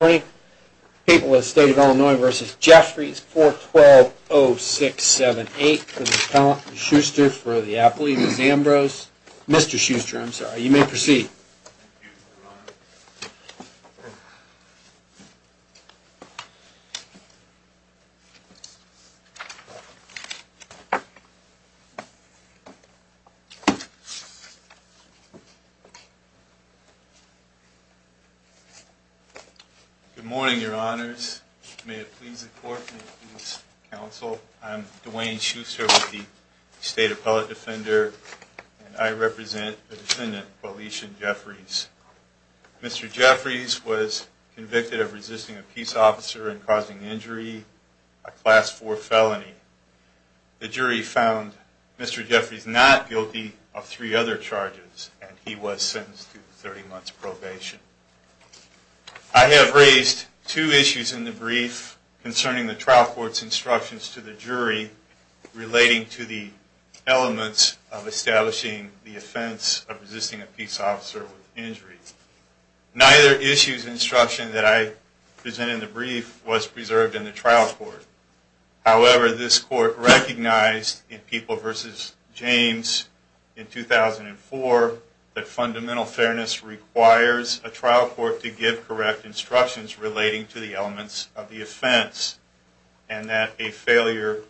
People of the State of Illinois v. Jeffries, 412-0678, for the appellant, Mr. Schuster, for the appellee, Ms. Ambrose, Mr. Schuster, I'm sorry. You may proceed. Good morning, your honors. May it please the court, may it please the counsel. I'm Dwayne Schuster with the State Appellate Defender, and I represent the defendant, Felicia Jeffries. Mr. Jeffries was convicted of resisting a peace officer and causing injury, a Class 4 felony. The jury found Mr. Jeffries not guilty of three other charges, and he was sentenced to 30 months probation. I have raised two issues in the brief concerning the trial court's instructions to the jury relating to the elements of establishing the offense of resisting a peace officer with injury. Neither issue's instruction that I present in the brief was preserved in the trial court. However, this court recognized in People v. James in 2004 that fundamental fairness requires a trial court to give correct instructions relating to the elements of the offense, and that a failure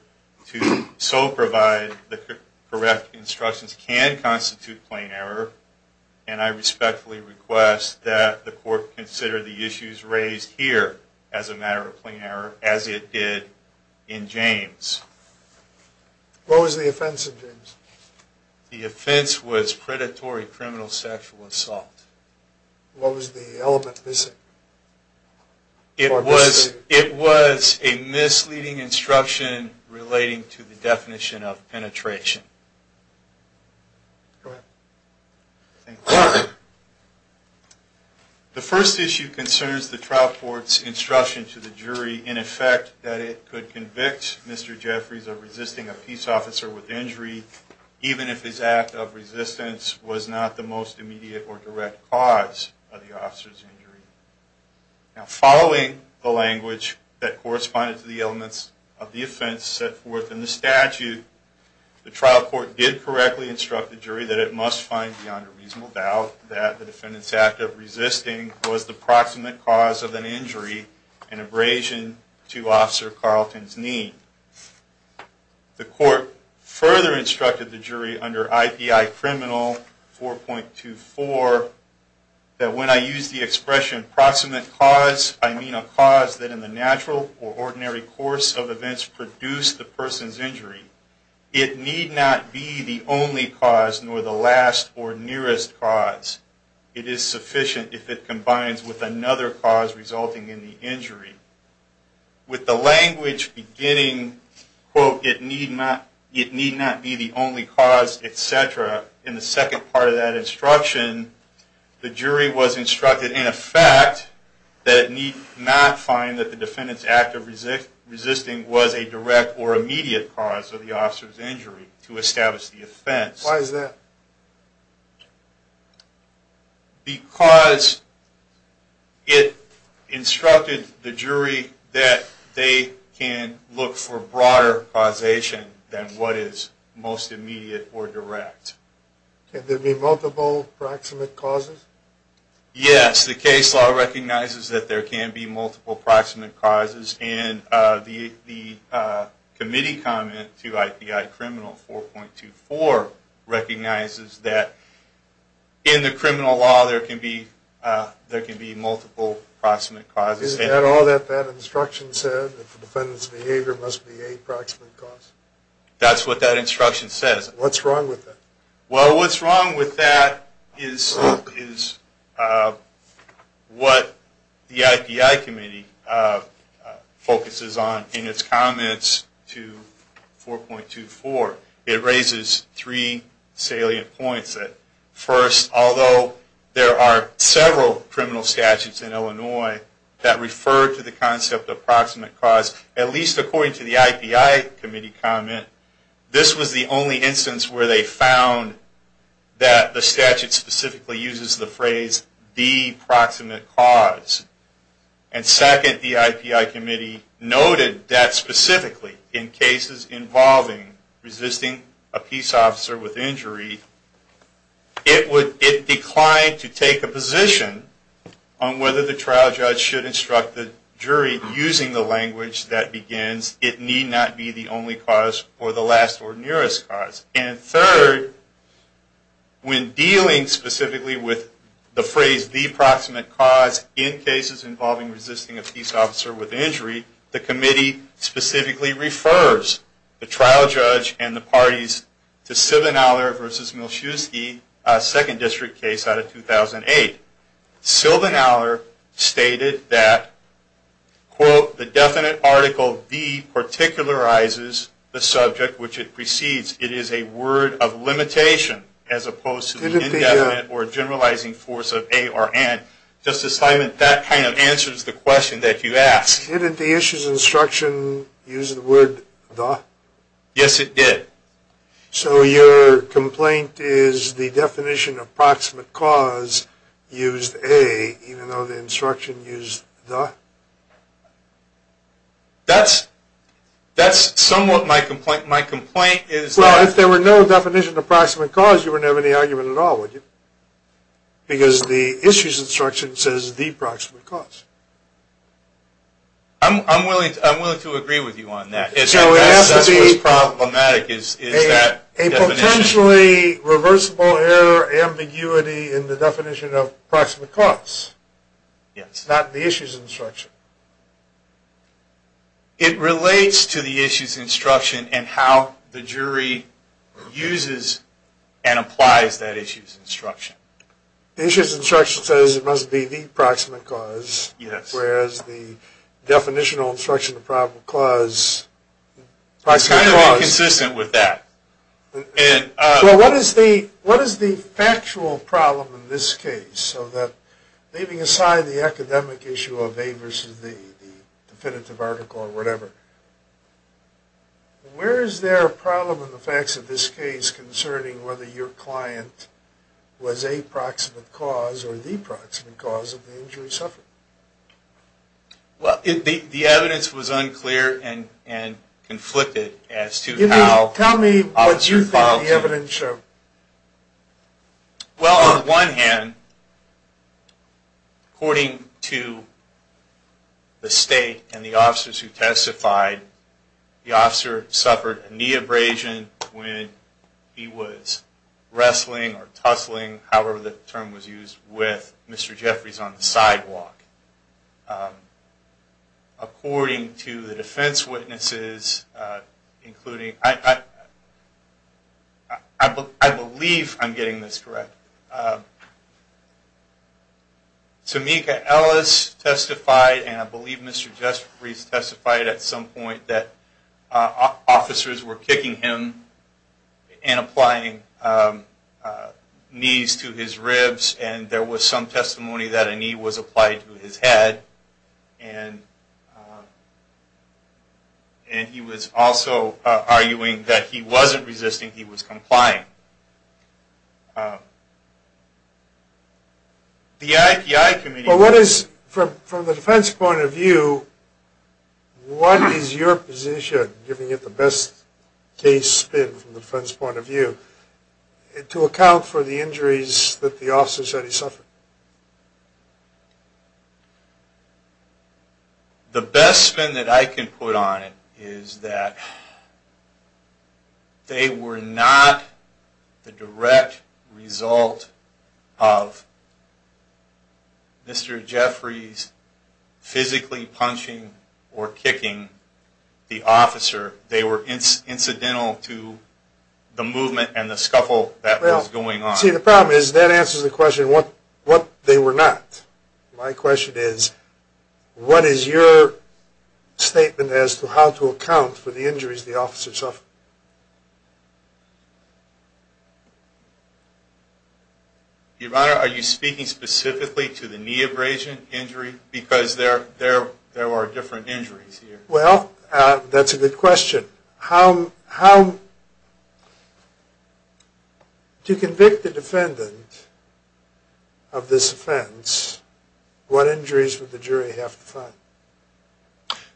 to so provide the correct instructions can constitute plain error. And I respectfully request that the court consider the issues raised here as a matter of plain error, as it did in James. What was the offense in James? The offense was predatory criminal sexual assault. What was the element missing? It was a misleading instruction relating to the definition of penetration. The first issue concerns the trial court's instruction to the jury in effect that it could convict Mr. Jeffries of resisting a peace officer with injury, even if his act of resistance was not the most immediate or direct cause of the officer's injury. Following the language that corresponded to the elements of the offense set forth in the statute, the trial court did correctly instruct the jury that it must find beyond a reasonable doubt that the defendant's act of resisting was the proximate cause of an injury and abrasion to Officer Carlton's knee. The court further instructed the jury under IPI Criminal 4.24 that when I use the expression proximate cause, I mean a cause that in the natural or ordinary course of events produced the person's injury. It need not be the only cause, nor the last or nearest cause. It is sufficient if it combines with another cause resulting in the injury. With the language beginning, quote, it need not be the only cause, etc., in the second part of that instruction, the jury was instructed in effect that it need not find that the defendant's act of resisting was a direct or immediate cause of the officer's injury to establish the offense. Why is that? Because it instructed the jury that they can look for broader causation than what is most immediate or direct. Can there be multiple proximate causes? Yes, the case law recognizes that there can be multiple proximate causes, and the committee comment to IPI Criminal 4.24 recognizes that in the criminal law there can be multiple proximate causes. Is that all that that instruction said, that the defendant's behavior must be a proximate cause? That's what that instruction says. What's wrong with that? Well, what's wrong with that is what the IPI Committee focuses on in its comments to 4.24. It raises three salient points. First, although there are several criminal statutes in Illinois that refer to the concept of proximate cause, at least according to the IPI Committee comment, this was the only instance where they found that the statute specifically uses the phrase, the proximate cause. And second, the IPI Committee noted that specifically in cases involving resisting a peace officer with injury, it declined to take a position on whether the trial judge should instruct the jury using the language that begins, it need not be the only cause or the last or nearest cause. And third, when dealing specifically with the phrase, the proximate cause, in cases involving resisting a peace officer with injury, the committee specifically refers the trial judge and the parties to Silvanaller v. Milschewski, second district case out of 2008. Silvanaller stated that, quote, the definite article V particularizes the subject which it precedes. It is a word of limitation as opposed to the indefinite or generalizing force of A or N. Justice Simon, that kind of answers the question that you asked. Didn't the issues instruction use the word, the? Yes, it did. So your complaint is the definition of proximate cause used A, even though the instruction used the? That's somewhat my complaint. Well, if there were no definition of proximate cause, you wouldn't have any argument at all, would you? Because the issues instruction says the proximate cause. I'm willing to agree with you on that. That's what's problematic is that definition. A potentially reversible error ambiguity in the definition of proximate cause. Yes. Not the issues instruction. It relates to the issues instruction and how the jury uses and applies that issues instruction. The issues instruction says it must be the proximate cause. Yes. Whereas the definitional instruction of proximate cause. It's kind of inconsistent with that. Well, what is the factual problem in this case? So that leaving aside the academic issue of A versus the definitive article or whatever, where is there a problem in the facts of this case concerning whether your client was a proximate cause or the proximate cause of the injury suffered? Well, the evidence was unclear and conflicted as to how. Tell me what you think the evidence showed. Well, on one hand, according to the state and the officers who testified, the officer suffered a knee abrasion when he was wrestling or tussling, however the term was used, with Mr. Jeffries on the sidewalk. According to the defense witnesses, including, I believe I'm getting this correct, Tamika Ellis testified and I believe Mr. Jeffries testified at some point that officers were kicking him and applying knees to his ribs and there was some testimony that a knee was applied to his ribs. And he was also arguing that he wasn't resisting, he was complying. Well, what is, from the defense point of view, what is your position, giving it the best case spin from the defense point of view, to account for the injuries that the officers said he suffered? The best spin that I can put on it is that they were not the direct result of Mr. Jeffries physically punching or kicking the officer. They were incidental to the movement and the scuffle that was going on. See, the problem is that answers the question, what they were not. My question is, what is your statement as to how to account for the injuries the officers suffered? Your Honor, are you speaking specifically to the knee abrasion injury? Because there are different injuries here. Well, that's a good question. To convict a defendant of this offense, what injuries would the jury have to find?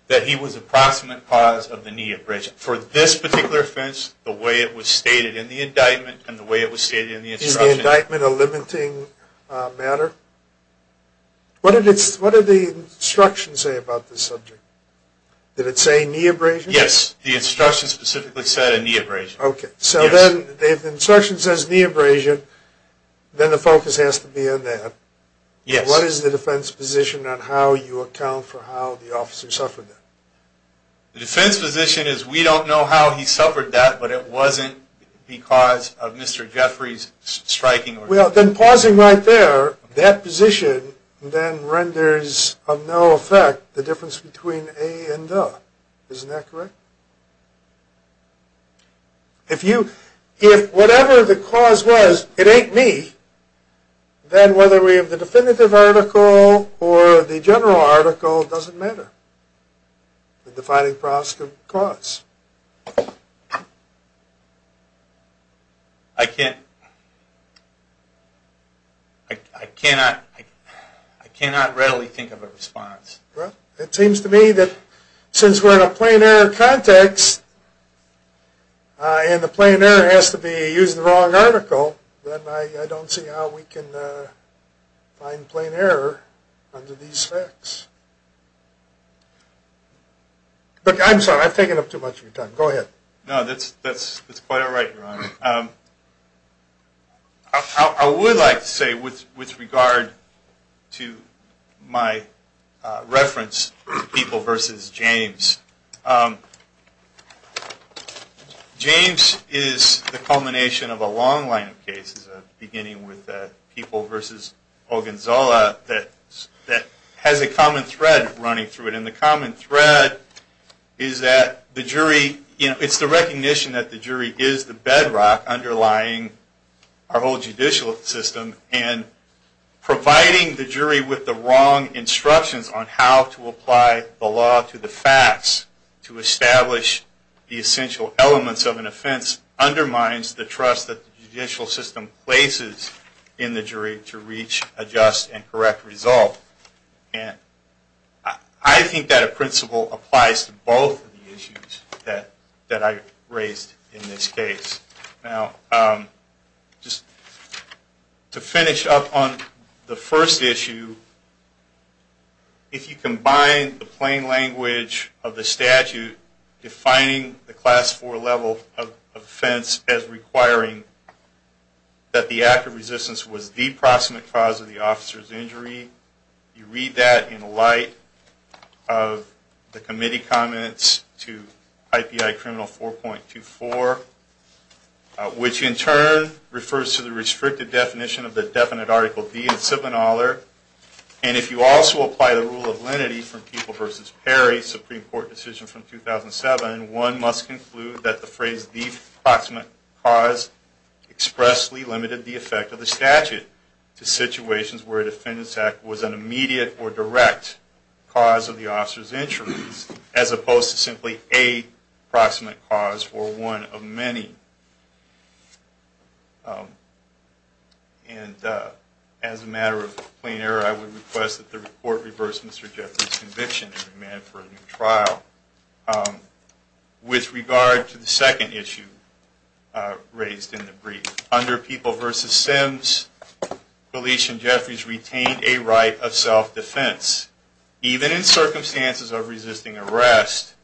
That he was approximate cause of the knee abrasion. For this particular offense, the way it was stated in the indictment and the way it was stated in the instruction. Is the indictment a limiting matter? What did the instruction say about this subject? Did it say knee abrasion? Yes, the instruction specifically said a knee abrasion. Okay, so then the instruction says knee abrasion, then the focus has to be on that. What is the defense position on how you account for how the officer suffered that? The defense position is we don't know how he suffered that, but it wasn't because of Mr. Jeffries striking. Well, then pausing right there, that position then renders of no effect the difference between a and the. Isn't that correct? If whatever the cause was, it ain't me. Then whether we have the definitive article or the general article doesn't matter. Well, it seems to me that since we're in a plain error context, and the plain error has to be using the wrong article, then I don't see how we can find plain error under these facts. I'm sorry, I've taken up too much of your time. Go ahead. No, that's quite all right, Your Honor. I would like to say with regard to my reference to People v. James, James is the culmination of a long line of cases, beginning with People v. Ogonzala, that has a common thread running through it. And the common thread is that it's the recognition that the jury is the bedrock underlying our whole judicial system, and providing the jury with the wrong instructions on how to apply the law to the facts to establish the essential elements of an offense undermines the trust that the judicial system places in the jury to reach a just and correct result. I think that a principle applies to both of the issues that I raised in this case. Now, just to finish up on the first issue, if you combine the plain language of the statute, defining the Class IV level of offense as requiring that the act of resistance was the proximate cause of the officer's injury, you read that in light of the committee comments to IPI Criminal 4.24, which in turn refers to the restricted definition of the definite article D in Siblin-Aller, and if you also apply the rule of lenity from People v. Perry, Supreme Court decision from 2007, one must conclude that the phrase the proximate cause expressly limited the effect of the statute to situations where a defendant's act was an immediate or direct cause of the officer's injuries, as opposed to simply a proximate cause or one of many. And as a matter of plain error, I would request that the report reverse Mr. Jeffries' conviction and demand for a new trial. With regard to the second issue raised in the brief, under People v. Sims, Felice and Jeffries retained a right of self-defense, even in circumstances of resisting arrest,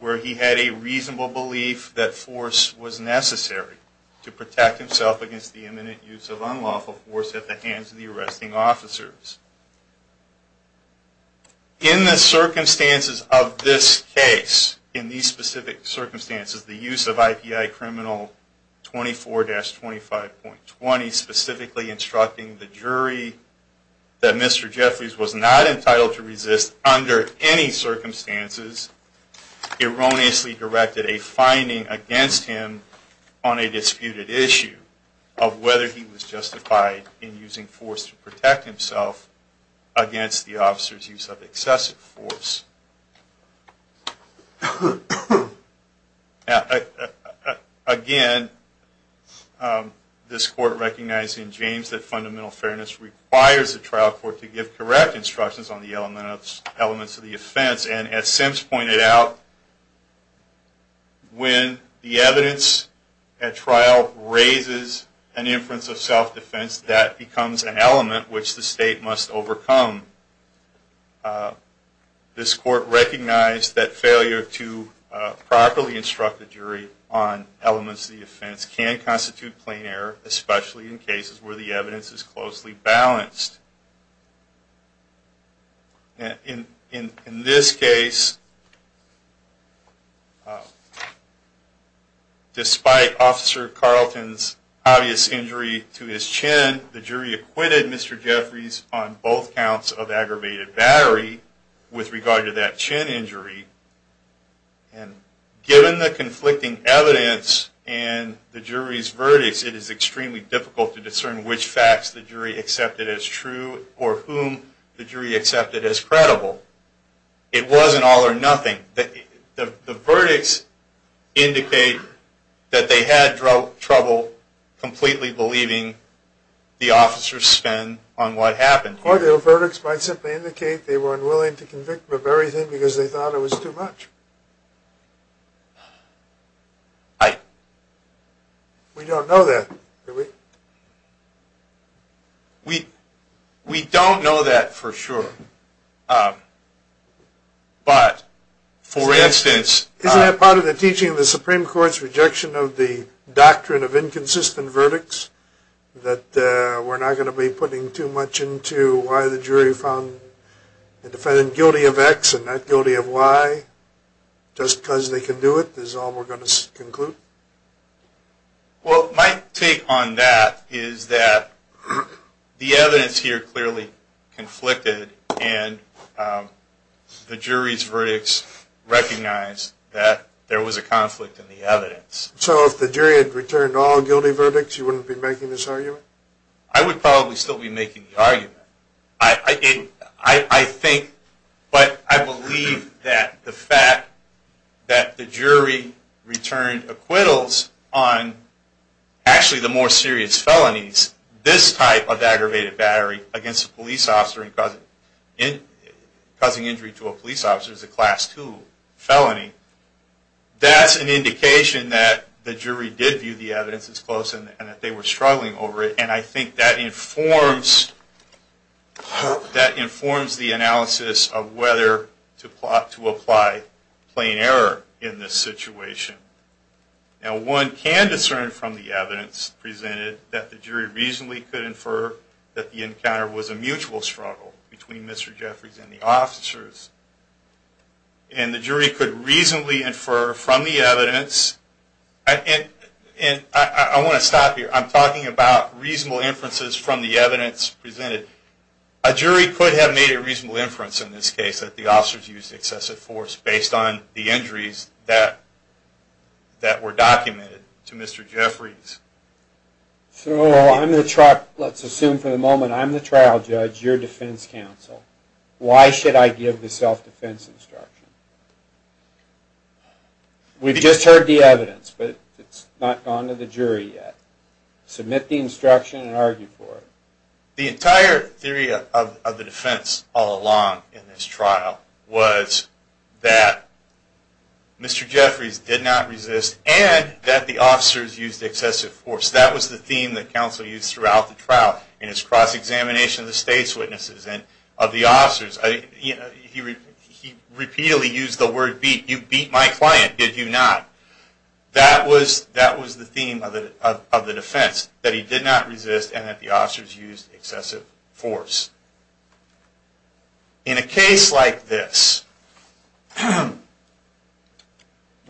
where he had a reasonable belief that force was necessary to protect himself against the imminent use of unlawful force at the hands of the arresting officers. In the circumstances of this case, in these specific circumstances, the use of IPI Criminal 24-25.20, specifically instructing the jury that Mr. Jeffries was not entitled to resist under any circumstances, erroneously directed a finding against him on a disputed issue of whether he was justified in using force to protect himself against the officer's use of excessive force. Again, this Court recognized in James that fundamental fairness requires the trial court to give correct instructions on the elements of the offense. And as Sims pointed out, when the evidence at trial raises an inference of self-defense, that becomes an element which the state must overcome. This Court recognized that failure to properly instruct the jury on elements of the offense can constitute plain error, especially in cases where the evidence is closely balanced. In this case, despite Officer Carlton's obvious injury to his chin, and the jury acquitted Mr. Jeffries on both counts of aggravated battery with regard to that chin injury, given the conflicting evidence and the jury's verdicts, it is extremely difficult to discern which facts the jury accepted as true or whom the jury accepted as credible. It wasn't all or nothing. The verdicts indicate that they had trouble completely believing the officer's spin on what happened. Or the verdicts might simply indicate they were unwilling to convict him of everything because they thought it was too much. We don't know that, do we? We don't know that for sure. But, for instance... Isn't that part of the teaching of the Supreme Court's rejection of the doctrine of inconsistent verdicts? That we're not going to be putting too much into why the jury found the defendant guilty of X and not guilty of Y? Just because they can do it is all we're going to conclude? Well, my take on that is that the evidence here clearly conflicted, and the jury's verdicts recognized that there was a conflict in the evidence. So if the jury had returned all guilty verdicts, you wouldn't be making this argument? I would probably still be making the argument. But I believe that the fact that the jury returned acquittals on actually the more serious felonies, this type of aggravated battery against a police officer and causing injury to a police officer is a Class II felony. That's an indication that the jury did view the evidence as close and that they were struggling over it. And I think that informs the analysis of whether to apply plain error in this situation. Now, one can discern from the evidence presented that the jury reasonably could infer that the encounter was a mutual struggle between Mr. Jeffries and the officers. And the jury could reasonably infer from the evidence... I want to stop here. I'm talking about reasonable inferences from the evidence presented. A jury could have made a reasonable inference in this case that the officers used excessive force based on the injuries that were documented to Mr. Jeffries. So I'm the trial judge, your defense counsel. Why should I give the self-defense instruction? We've just heard the evidence, but it's not gone to the jury yet. Submit the instruction and argue for it. The entire theory of the defense all along in this trial was that Mr. Jeffries did not resist and that the officers used excessive force. That was the theme that counsel used throughout the trial in his cross-examination of the state's witnesses and of the officers. He repeatedly used the word beat. You beat my client, did you not? That was the theme of the defense, that he did not resist and that the officers used excessive force. In a case like this,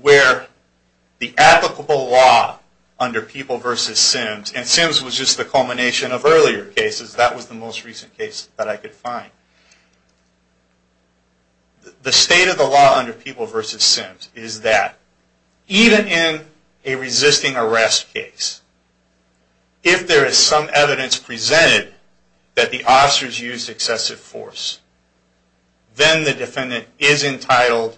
where the applicable law under People v. Sims, and Sims was just the culmination of earlier cases, that was the most recent case that I could find. The state of the law under People v. Sims is that even in a resisting arrest case, if there is some evidence presented that the officers used excessive force, then the defendant is entitled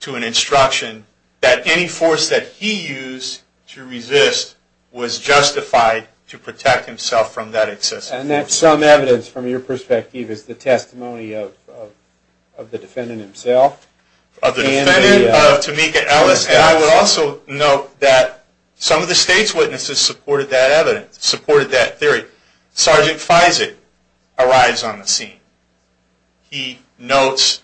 to an instruction that any force that he used to resist was justified to protect himself from that excessive force. And that some evidence, from your perspective, is the testimony of the defendant himself? Of the defendant, of Tamika Ellis, and I would also note that some of the state's witnesses supported that evidence, supported that theory. Sergeant Feisig arrives on the scene. He notes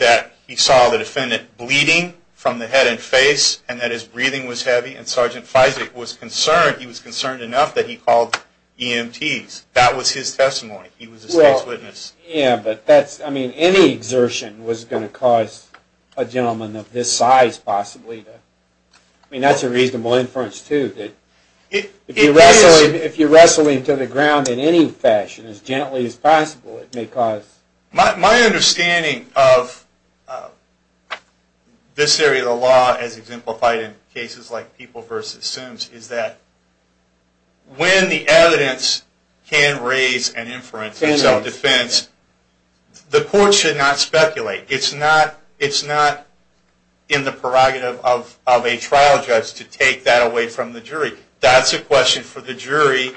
that he saw the defendant bleeding from the head and face and that his breathing was heavy, and Sergeant Feisig was concerned, he was concerned enough that he called EMTs. And that was his testimony. He was a state's witness. Any exertion was going to cause a gentleman of this size possibly to... I mean, that's a reasonable inference, too. If you're wrestling to the ground in any fashion, as gently as possible, it may cause... My understanding of this area of the law, as exemplified in cases like People v. Sims, is that when the evidence can result in an arrest, it can result in an arrest. If the evidence can raise an inference, it's self-defense, the court should not speculate. It's not in the prerogative of a trial judge to take that away from the jury. That's a question for the jury.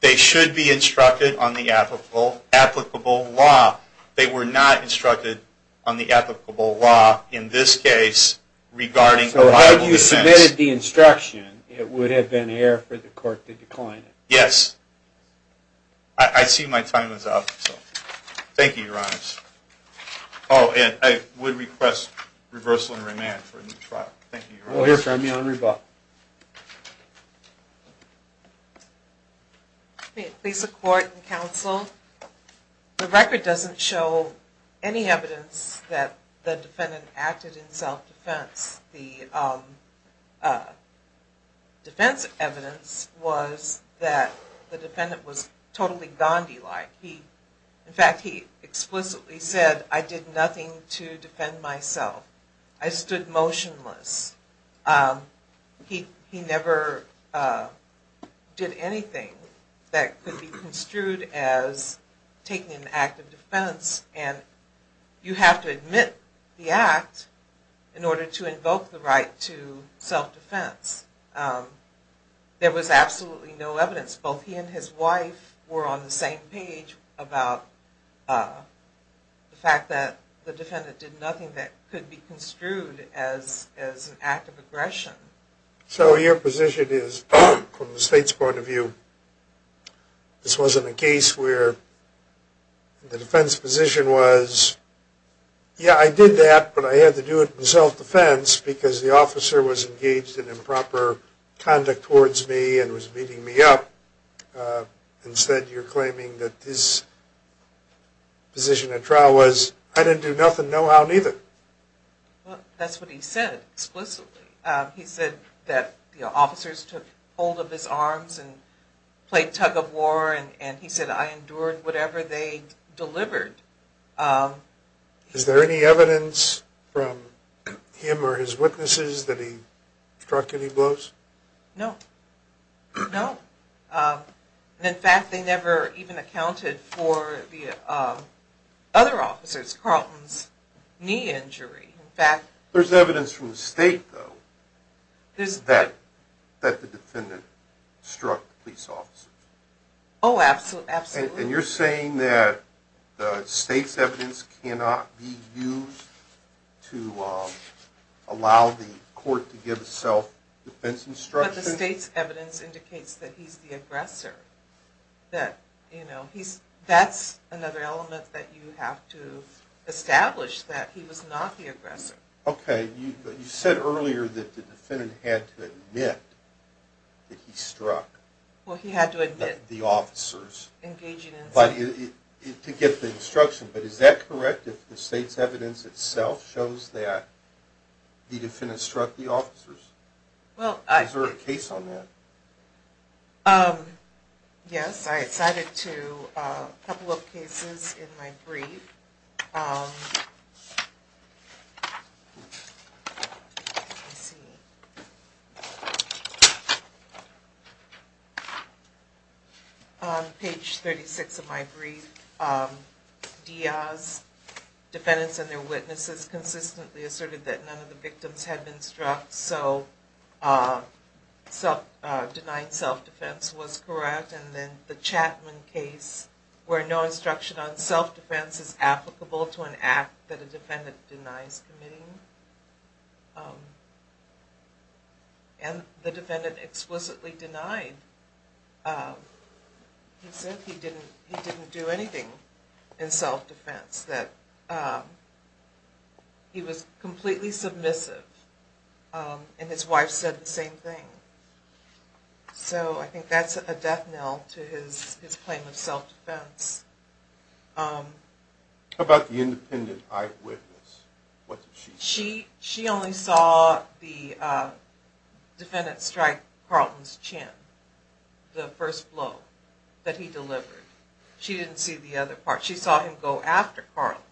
They should be instructed on the applicable law. They were not instructed on the applicable law in this case regarding a rival defense. If you had submitted the instruction, it would have been air for the court to decline it. Yes. I see my time is up. Thank you, Your Honor. Oh, and I would request reversal and remand for a new trial. We'll hear from you on rebuttal. Please support and counsel. The record doesn't show any evidence that the defendant acted in self-defense. The defense evidence was that the defendant was totally Gandhi-like. In fact, he explicitly said, I did nothing to defend myself. I stood motionless. He never did anything that could be construed as taking an act of defense and you have to admit the act in order to invoke the right to self-defense. There was absolutely no evidence. Both he and his wife were on the same page about the fact that the defendant did nothing that could be construed as an act of aggression. So your position is, from the state's point of view, this wasn't a case where the defense position was, yeah, I did that, but I had to do it in self-defense because the officer was engaged in improper conduct towards me and was beating me up. Instead, you're claiming that his position at trial was, I didn't do nothing, no how, neither. That's what he said explicitly. He said that the officers took hold of his arms and played tug-of-war and he said, I endured whatever they delivered. Is there any evidence from him or his witnesses that he struck any blows? No. No. In fact, they never even accounted for the other officers, Carlton's knee injury. There's evidence from the state, though, that the defendant struck the police officer. Oh, absolutely. And you're saying that the state's evidence cannot be used to allow the court to give self-defense instructions? But the state's evidence indicates that he's the aggressor. That's another element that you have to establish, that he was not the aggressor. Okay. You said earlier that the defendant had to admit that he struck the officers. Well, he had to admit engaging in self-defense. To get the instruction, but is that correct if the state's evidence itself shows that the defendant struck the officers? Is there a case on that? Yes. I cited a couple of cases in my brief. On page 36 of my brief, Diaz, defendants and their witnesses consistently asserted that none of the victims had been struck. So, denying self-defense was correct. And then the Chapman case, where no instruction on self-defense is applicable to an act that a defendant denies committing. And the defendant explicitly denied. He said he didn't do anything in self-defense. He was completely submissive. And his wife said the same thing. So, I think that's a death knell to his claim of self-defense. How about the independent eyewitness? She only saw the defendant strike Carlton's chin. The first blow that he delivered. She didn't see the other part. She saw him go after Carlton.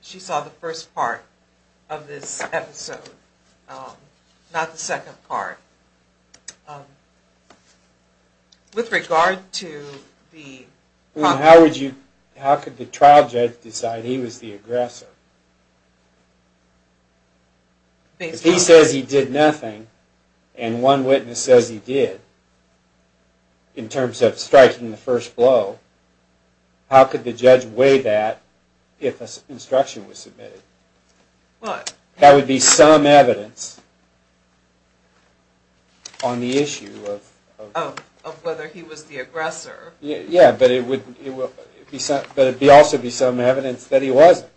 She saw the first part of this episode, not the second part. How could the trial judge decide he was the aggressor? If he says he did nothing, and one witness says he did, in terms of striking the first blow, how could the judge weigh that if instruction was submitted? That would be some evidence on the issue of whether he was the aggressor. Yeah, but it would also be some evidence that he wasn't.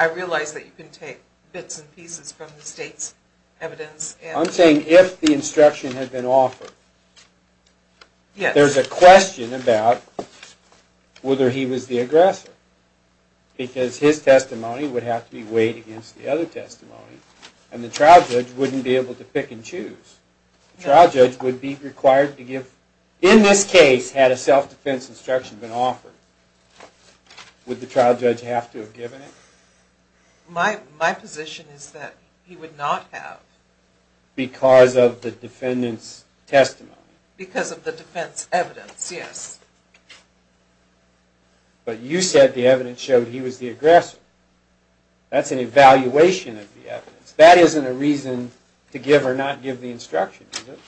I realize that you can take bits and pieces from the state's evidence. I'm saying if the instruction had been offered. There's a question about whether he was the aggressor. Because his testimony would have to be weighed against the other testimony. And the trial judge wouldn't be able to pick and choose. In this case, had a self-defense instruction been offered, would the trial judge have to have given it? My position is that he would not have. Because of the defense evidence, yes. But you said the evidence showed he was the aggressor. That's an evaluation of the evidence. That isn't a reason to give or not give the instruction, is it?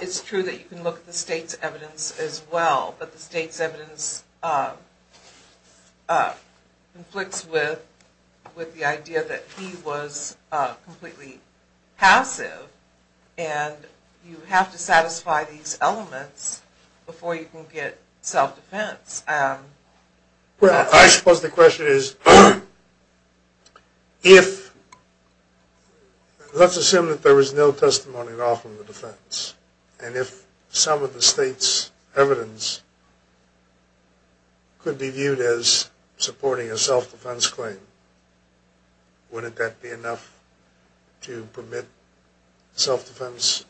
It's true that you can look at the state's evidence as well. But the state's evidence conflicts with the idea that he was completely passive. And you have to satisfy these elements before you can get self-defense. Well, I suppose the question is, let's assume that there was no testimony offered in the defense. And if some of the state's evidence could be viewed as supporting a self-defense claim, wouldn't that be enough to permit self-defense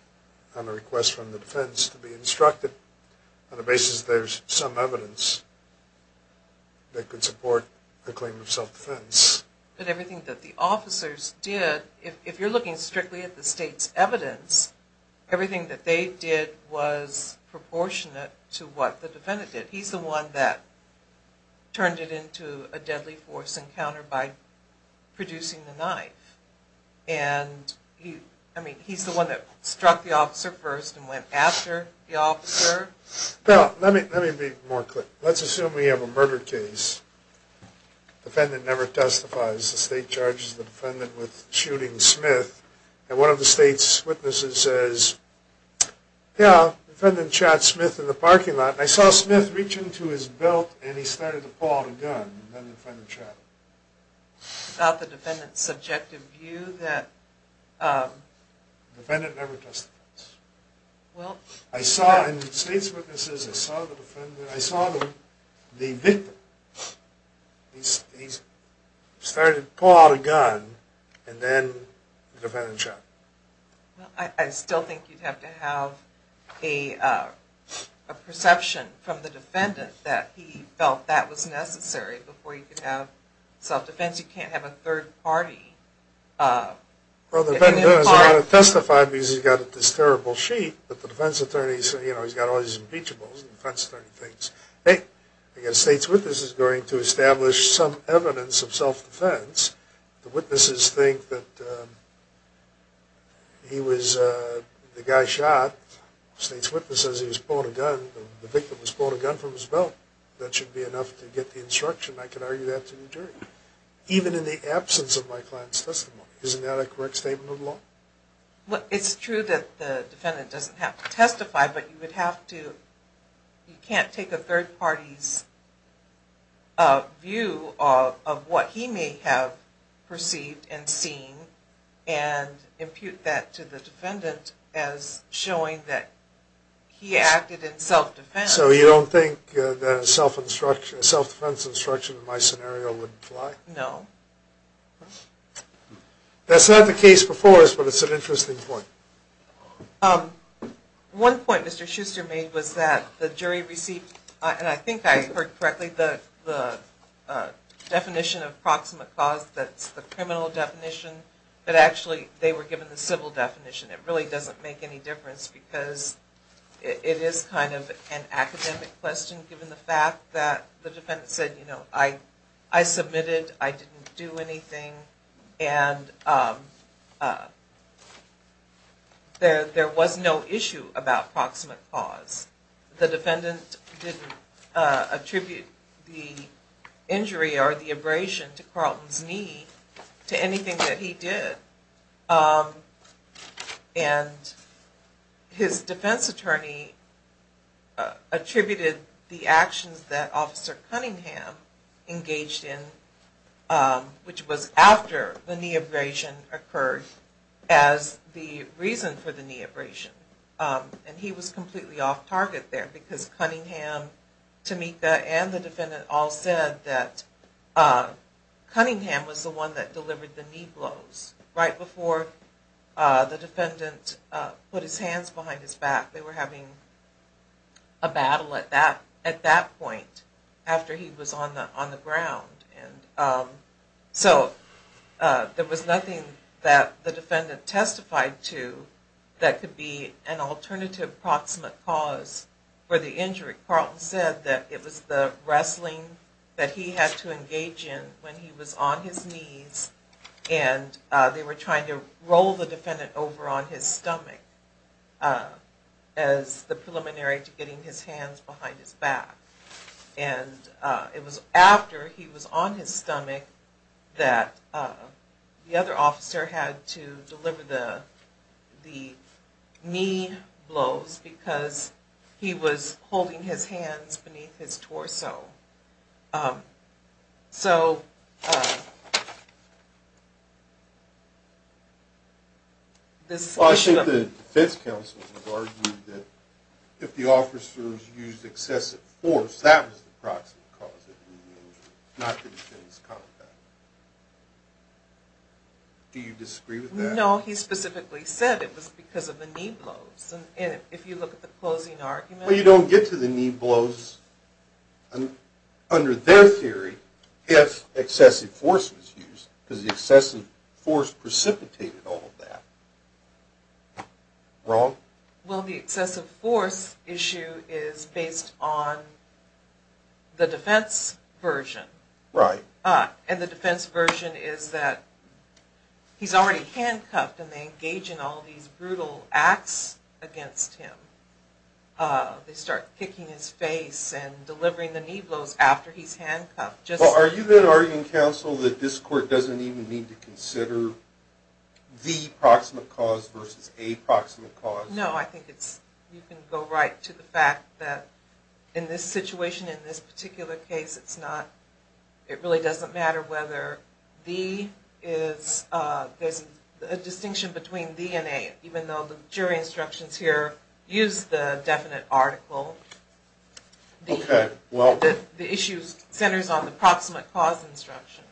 on a request from the defense to be instructed? On the basis that there's some evidence that could support a claim of self-defense. But everything that the officers did, if you're looking strictly at the state's evidence, everything that they did was proportionate to what the defendant did. He's the one that turned it into a deadly force encounter by producing the knife. And he's the one that struck the officer first and went after the officer. Let me be more clear. Let's assume we have a murder case. The defendant never testifies. The state charges the defendant with shooting Smith. And one of the state's witnesses says, yeah, the defendant shot Smith in the parking lot. And I saw Smith reach into his belt and he started to pull out a gun. The defendant never testifies. I saw in the state's witnesses, I saw the victim. He started to pull out a gun and then the defendant shot him. I still think you'd have to have a perception from the defendant that he felt that was necessary before you could have self-defense. You can't have a third party. Well, the defendant doesn't want to testify because he's got this terrible sheet. But the defense attorney, you know, he's got all these impeachables and defense attorney things. Hey, the state's witness is going to establish some evidence of self-defense. The witnesses think that he was, the guy shot. The state's witness says he was pulling a gun. The victim was pulling a gun from his belt. That should be enough to get the instruction. I can argue that to the jury. Even in the absence of my client's testimony. Isn't that a correct statement of the law? Well, it's true that the defendant doesn't have to testify, but you would have to, you can't take a third party's view of what he may have perceived and seen and impute that to the defendant as showing that he acted in self-defense. So you don't think that a self-defense instruction in my scenario would apply? No. That's not the case before us, but it's an interesting point. One point Mr. Schuster made was that the jury received, and I think I heard correctly, the definition of proximate cause that's the criminal definition, but actually they were given the civil definition. It really doesn't make any difference because it is kind of an academic question given the fact that the defendant said, you know, I submitted, I didn't do anything, and there was no issue about proximate cause. The defendant didn't attribute the injury or the abrasion to Carlton's knee to anything that he did. And his defense attorney attributed the actions that Officer Cunningham engaged in, which was after the knee abrasion occurred, as the reason for the knee abrasion. And he was completely off target there because Cunningham, Tamika, and the defendant all said that Cunningham was the one that delivered the knee blows right before the defendant put his hands behind his back. They were having a battle at that point after he was on the ground. So there was nothing that the defendant testified to that could be an alternative proximate cause for the injury. Carlton said that it was the wrestling that he had to engage in when he was on his knees and they were trying to roll the defendant over on his stomach as the preliminary to getting his hands behind his back. And it was after he was on his stomach that the other officer had to deliver the knee blows because he was holding his hands beneath his torso. So... I think the defense counsel argued that if the officers used excessive force, that was the proximate cause of the injury, not the defense contact. Do you disagree with that? No, he specifically said it was because of the knee blows. And if you look at the closing argument... Well, you don't get to the knee blows under their theory if excessive force was used because the excessive force precipitated all of that. Wrong? Well, the excessive force issue is based on the defense version. Right. And the defense version is that he's already handcuffed and they engage in all these brutal acts against him. They start kicking his face and delivering the knee blows after he's handcuffed. Are you then arguing, counsel, that this court doesn't even need to consider the proximate cause versus a proximate cause? No, I think you can go right to the fact that in this situation, in this particular case, it really doesn't matter whether there's a distinction between the and a, even though the jury instructions here use the definite article. Okay, well... The issue centers on the proximate cause instruction.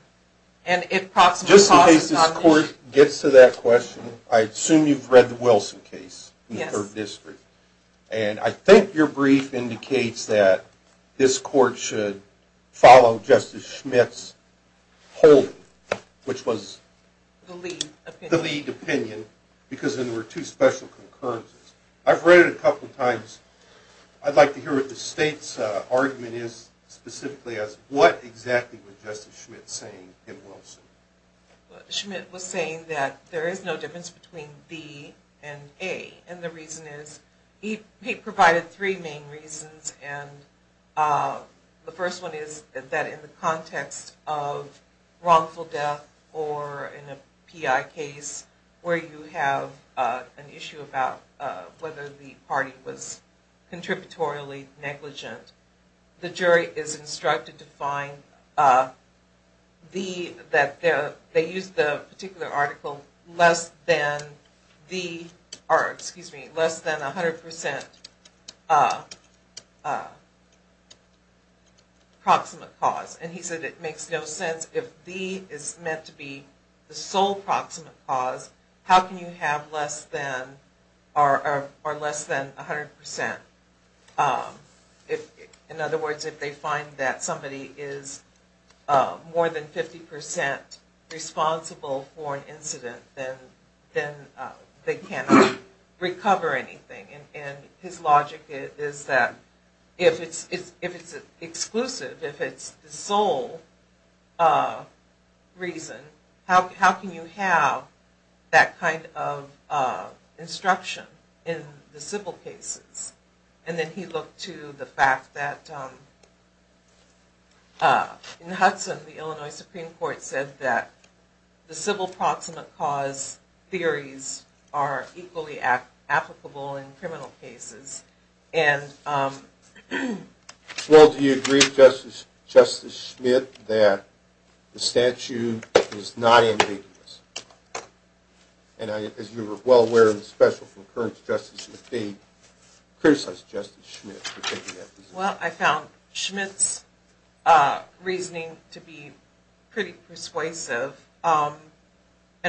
Just in case this court gets to that question, I assume you've read the Wilson case in the 3rd District. And I think your brief indicates that this court should follow Justice Schmitt's holding, which was... The lead opinion. The lead opinion, because then there were two special concurrences. I've read it a couple of times. I'd like to hear what the state's argument is specifically as to what exactly was Justice Schmitt saying in Wilson. Schmitt was saying that there is no difference between the and a, and the reason is he provided three main reasons. And the first one is that in the context of wrongful death or in a PI case, where you have an issue about whether the party was contributorily negligent, the jury is instructed to find the... They use the particular article, less than 100% proximate cause. And he said it makes no sense if the is meant to be the sole proximate cause. How can you have less than 100%? In other words, if they find that somebody is more than 50% responsible for an incident, then they cannot recover anything. And his logic is that if it's exclusive, if it's the sole reason, then how can you have that kind of instruction in the civil cases? And then he looked to the fact that in Hudson, the Illinois Supreme Court said that the civil proximate cause theories are equally applicable in criminal cases. Well, do you agree, Justice Schmidt, that the statute is not ambiguous? And as you are well aware of the special from current Justice McDade, criticized Justice Schmidt for taking that position. Well, I found Schmidt's reasoning to be pretty persuasive. And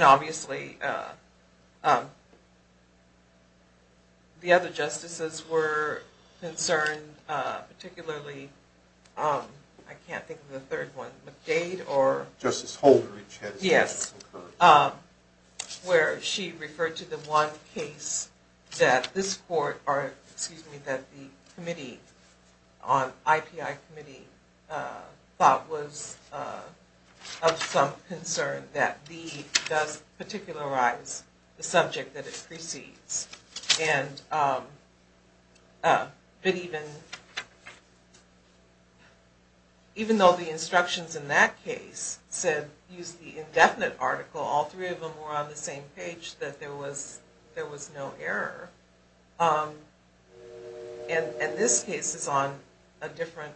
obviously, the other justices were concerned, particularly... I can't think of the third one, McDade or... Justice Holder. Yes. Where she referred to the one case that this court... excuse me, that the committee on... IPI committee thought was of some concern that the... does particularize the subject that it precedes. And... but even... even though the instructions in that case said... used the indefinite article, all three of them were on the same page, that there was no error. And this case is on a different...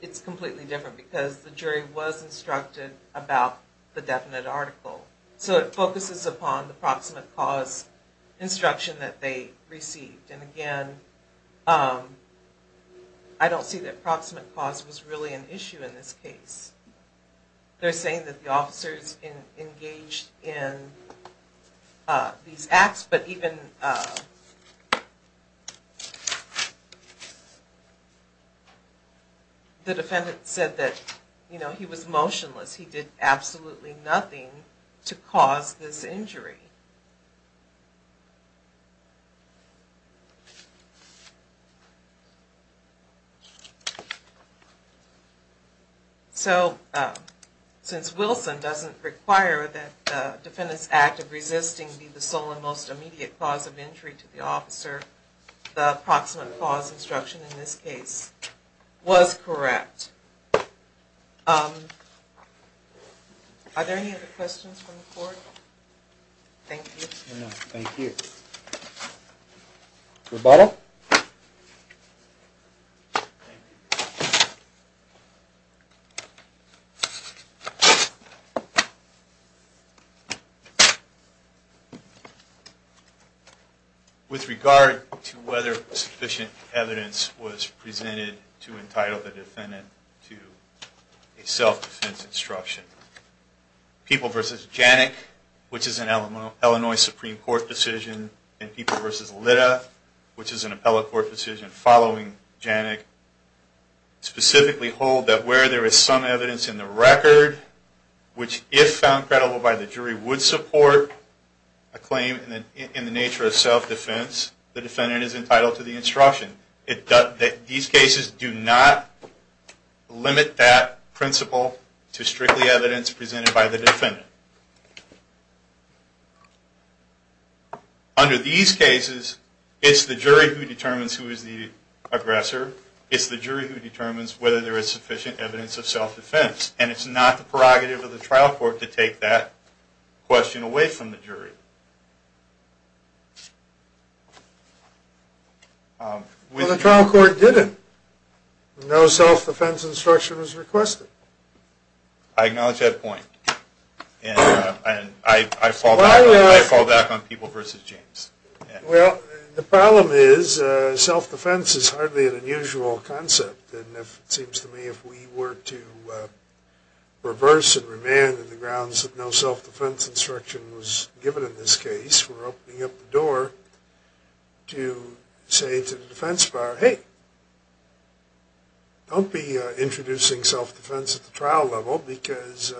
it's completely different because the jury was instructed about the definite article. So it focuses upon the proximate cause instruction that they received. And again, I don't see that proximate cause was really an issue in this case. They're saying that the officers engaged in these acts, but even... the defendant said that he was motionless. He did absolutely nothing to cause this injury. So... since Wilson doesn't require that the defendant's act of resisting be the sole and most immediate cause of injury to the officer, the proximate cause instruction in this case was correct. Are there any other questions from the court? Thank you. With regard to whether sufficient evidence was presented to entitle the defendant to a self-defense instruction, People v. Janik, which is an Illinois Supreme Court decision, and People v. Litta, which is an appellate court decision following Janik, specifically hold that where there is some evidence in the record, which if found credible by the jury would support a claim in the nature of self-defense, the defendant is entitled to the instruction. These cases do not limit that principle to strictly evidence presented by the defendant. Under these cases, it's the jury who determines who is the aggressor. It's the jury who determines whether there is sufficient evidence of self-defense. And it's not the prerogative of the trial court to take that question away from the jury. Well, the trial court didn't. No self-defense instruction was requested. I acknowledge that point. And I fall back on People v. Janik. Well, the problem is self-defense is hardly an unusual concept. And it seems to me if we were to reverse and remand the grounds that no self-defense instruction was given in this case, we're opening up the door to say to the defense bar, hey, don't be introducing self-defense at the trial level because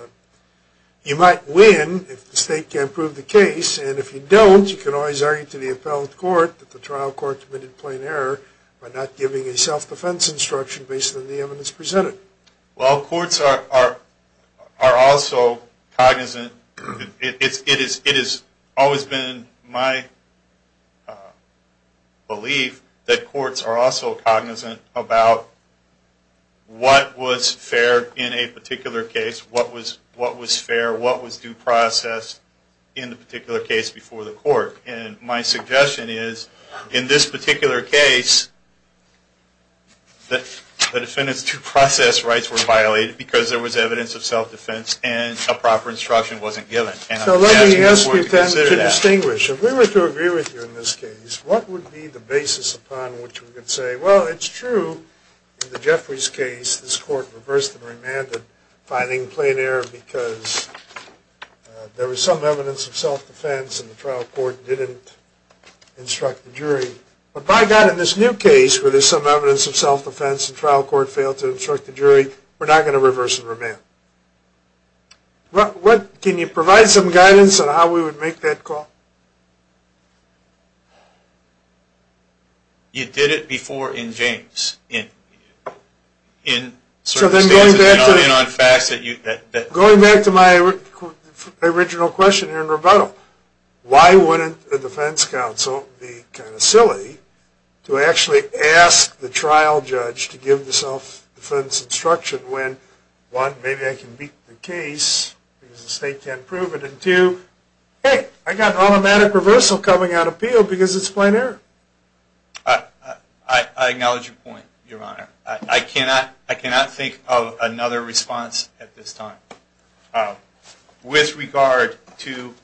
you might win if the state can't prove the case. And if you don't, you can always argue to the appellate court that the trial court committed plain error by not giving a self-defense instruction based on the evidence presented. Well, courts are also cognizant. It has always been my belief that courts are also cognizant about what was fair in a particular case, what was fair, what was due process in the particular case before the court. And my suggestion is in this particular case, the defendant's due process rights were violated because there was evidence of self-defense and a proper instruction wasn't given. So let me ask you then to distinguish. If we were to agree with you in this case, what would be the basis upon which we could say, well, it's true in the Jeffries case this court reversed and remanded finding plain error because there was some evidence of self-defense and the trial court didn't instruct the jury. But by God, in this new case where there's some evidence of self-defense and the trial court failed to instruct the jury, we're not going to reverse and remand. Can you provide some guidance on how we would make that call? You did it before in James. So then going back to my original question here in rebuttal, why wouldn't a defense counsel be kind of silly to actually ask the trial judge to give the self-defense instruction when one, maybe I can beat the case because the state can't prove it, and two, hey, I got automatic reversal coming out of appeal because it's plain error. I acknowledge your point, Your Honor. I cannot think of another response at this time. With regard to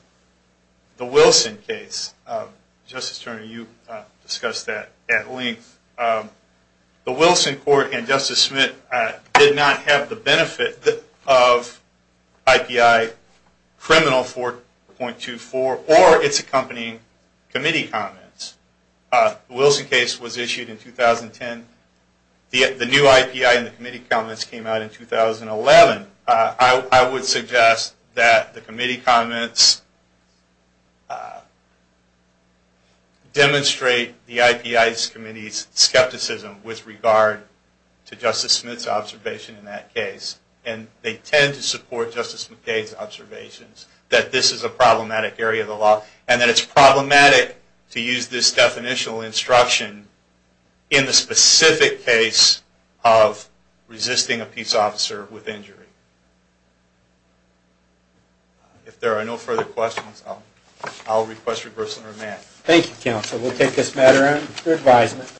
the Wilson case, Justice Turner, you discussed that at length. The Wilson court and Justice Smith did not have the benefit of IPI criminal 4.24 or its accompanying committee comments. The Wilson case was issued in 2010. The new IPI and the committee comments came out in 2011. I would suggest that the committee comments demonstrate the IPI committee's skepticism with regard to Justice Smith's observation in that case. And they tend to support Justice McKay's observations that this is a problematic area of the law and that it's problematic to use this definitional instruction in the specific case of resisting a peace officer with injury. If there are no further questions, I'll request reversal and remand. Thank you, counsel. We'll take this matter under advisement.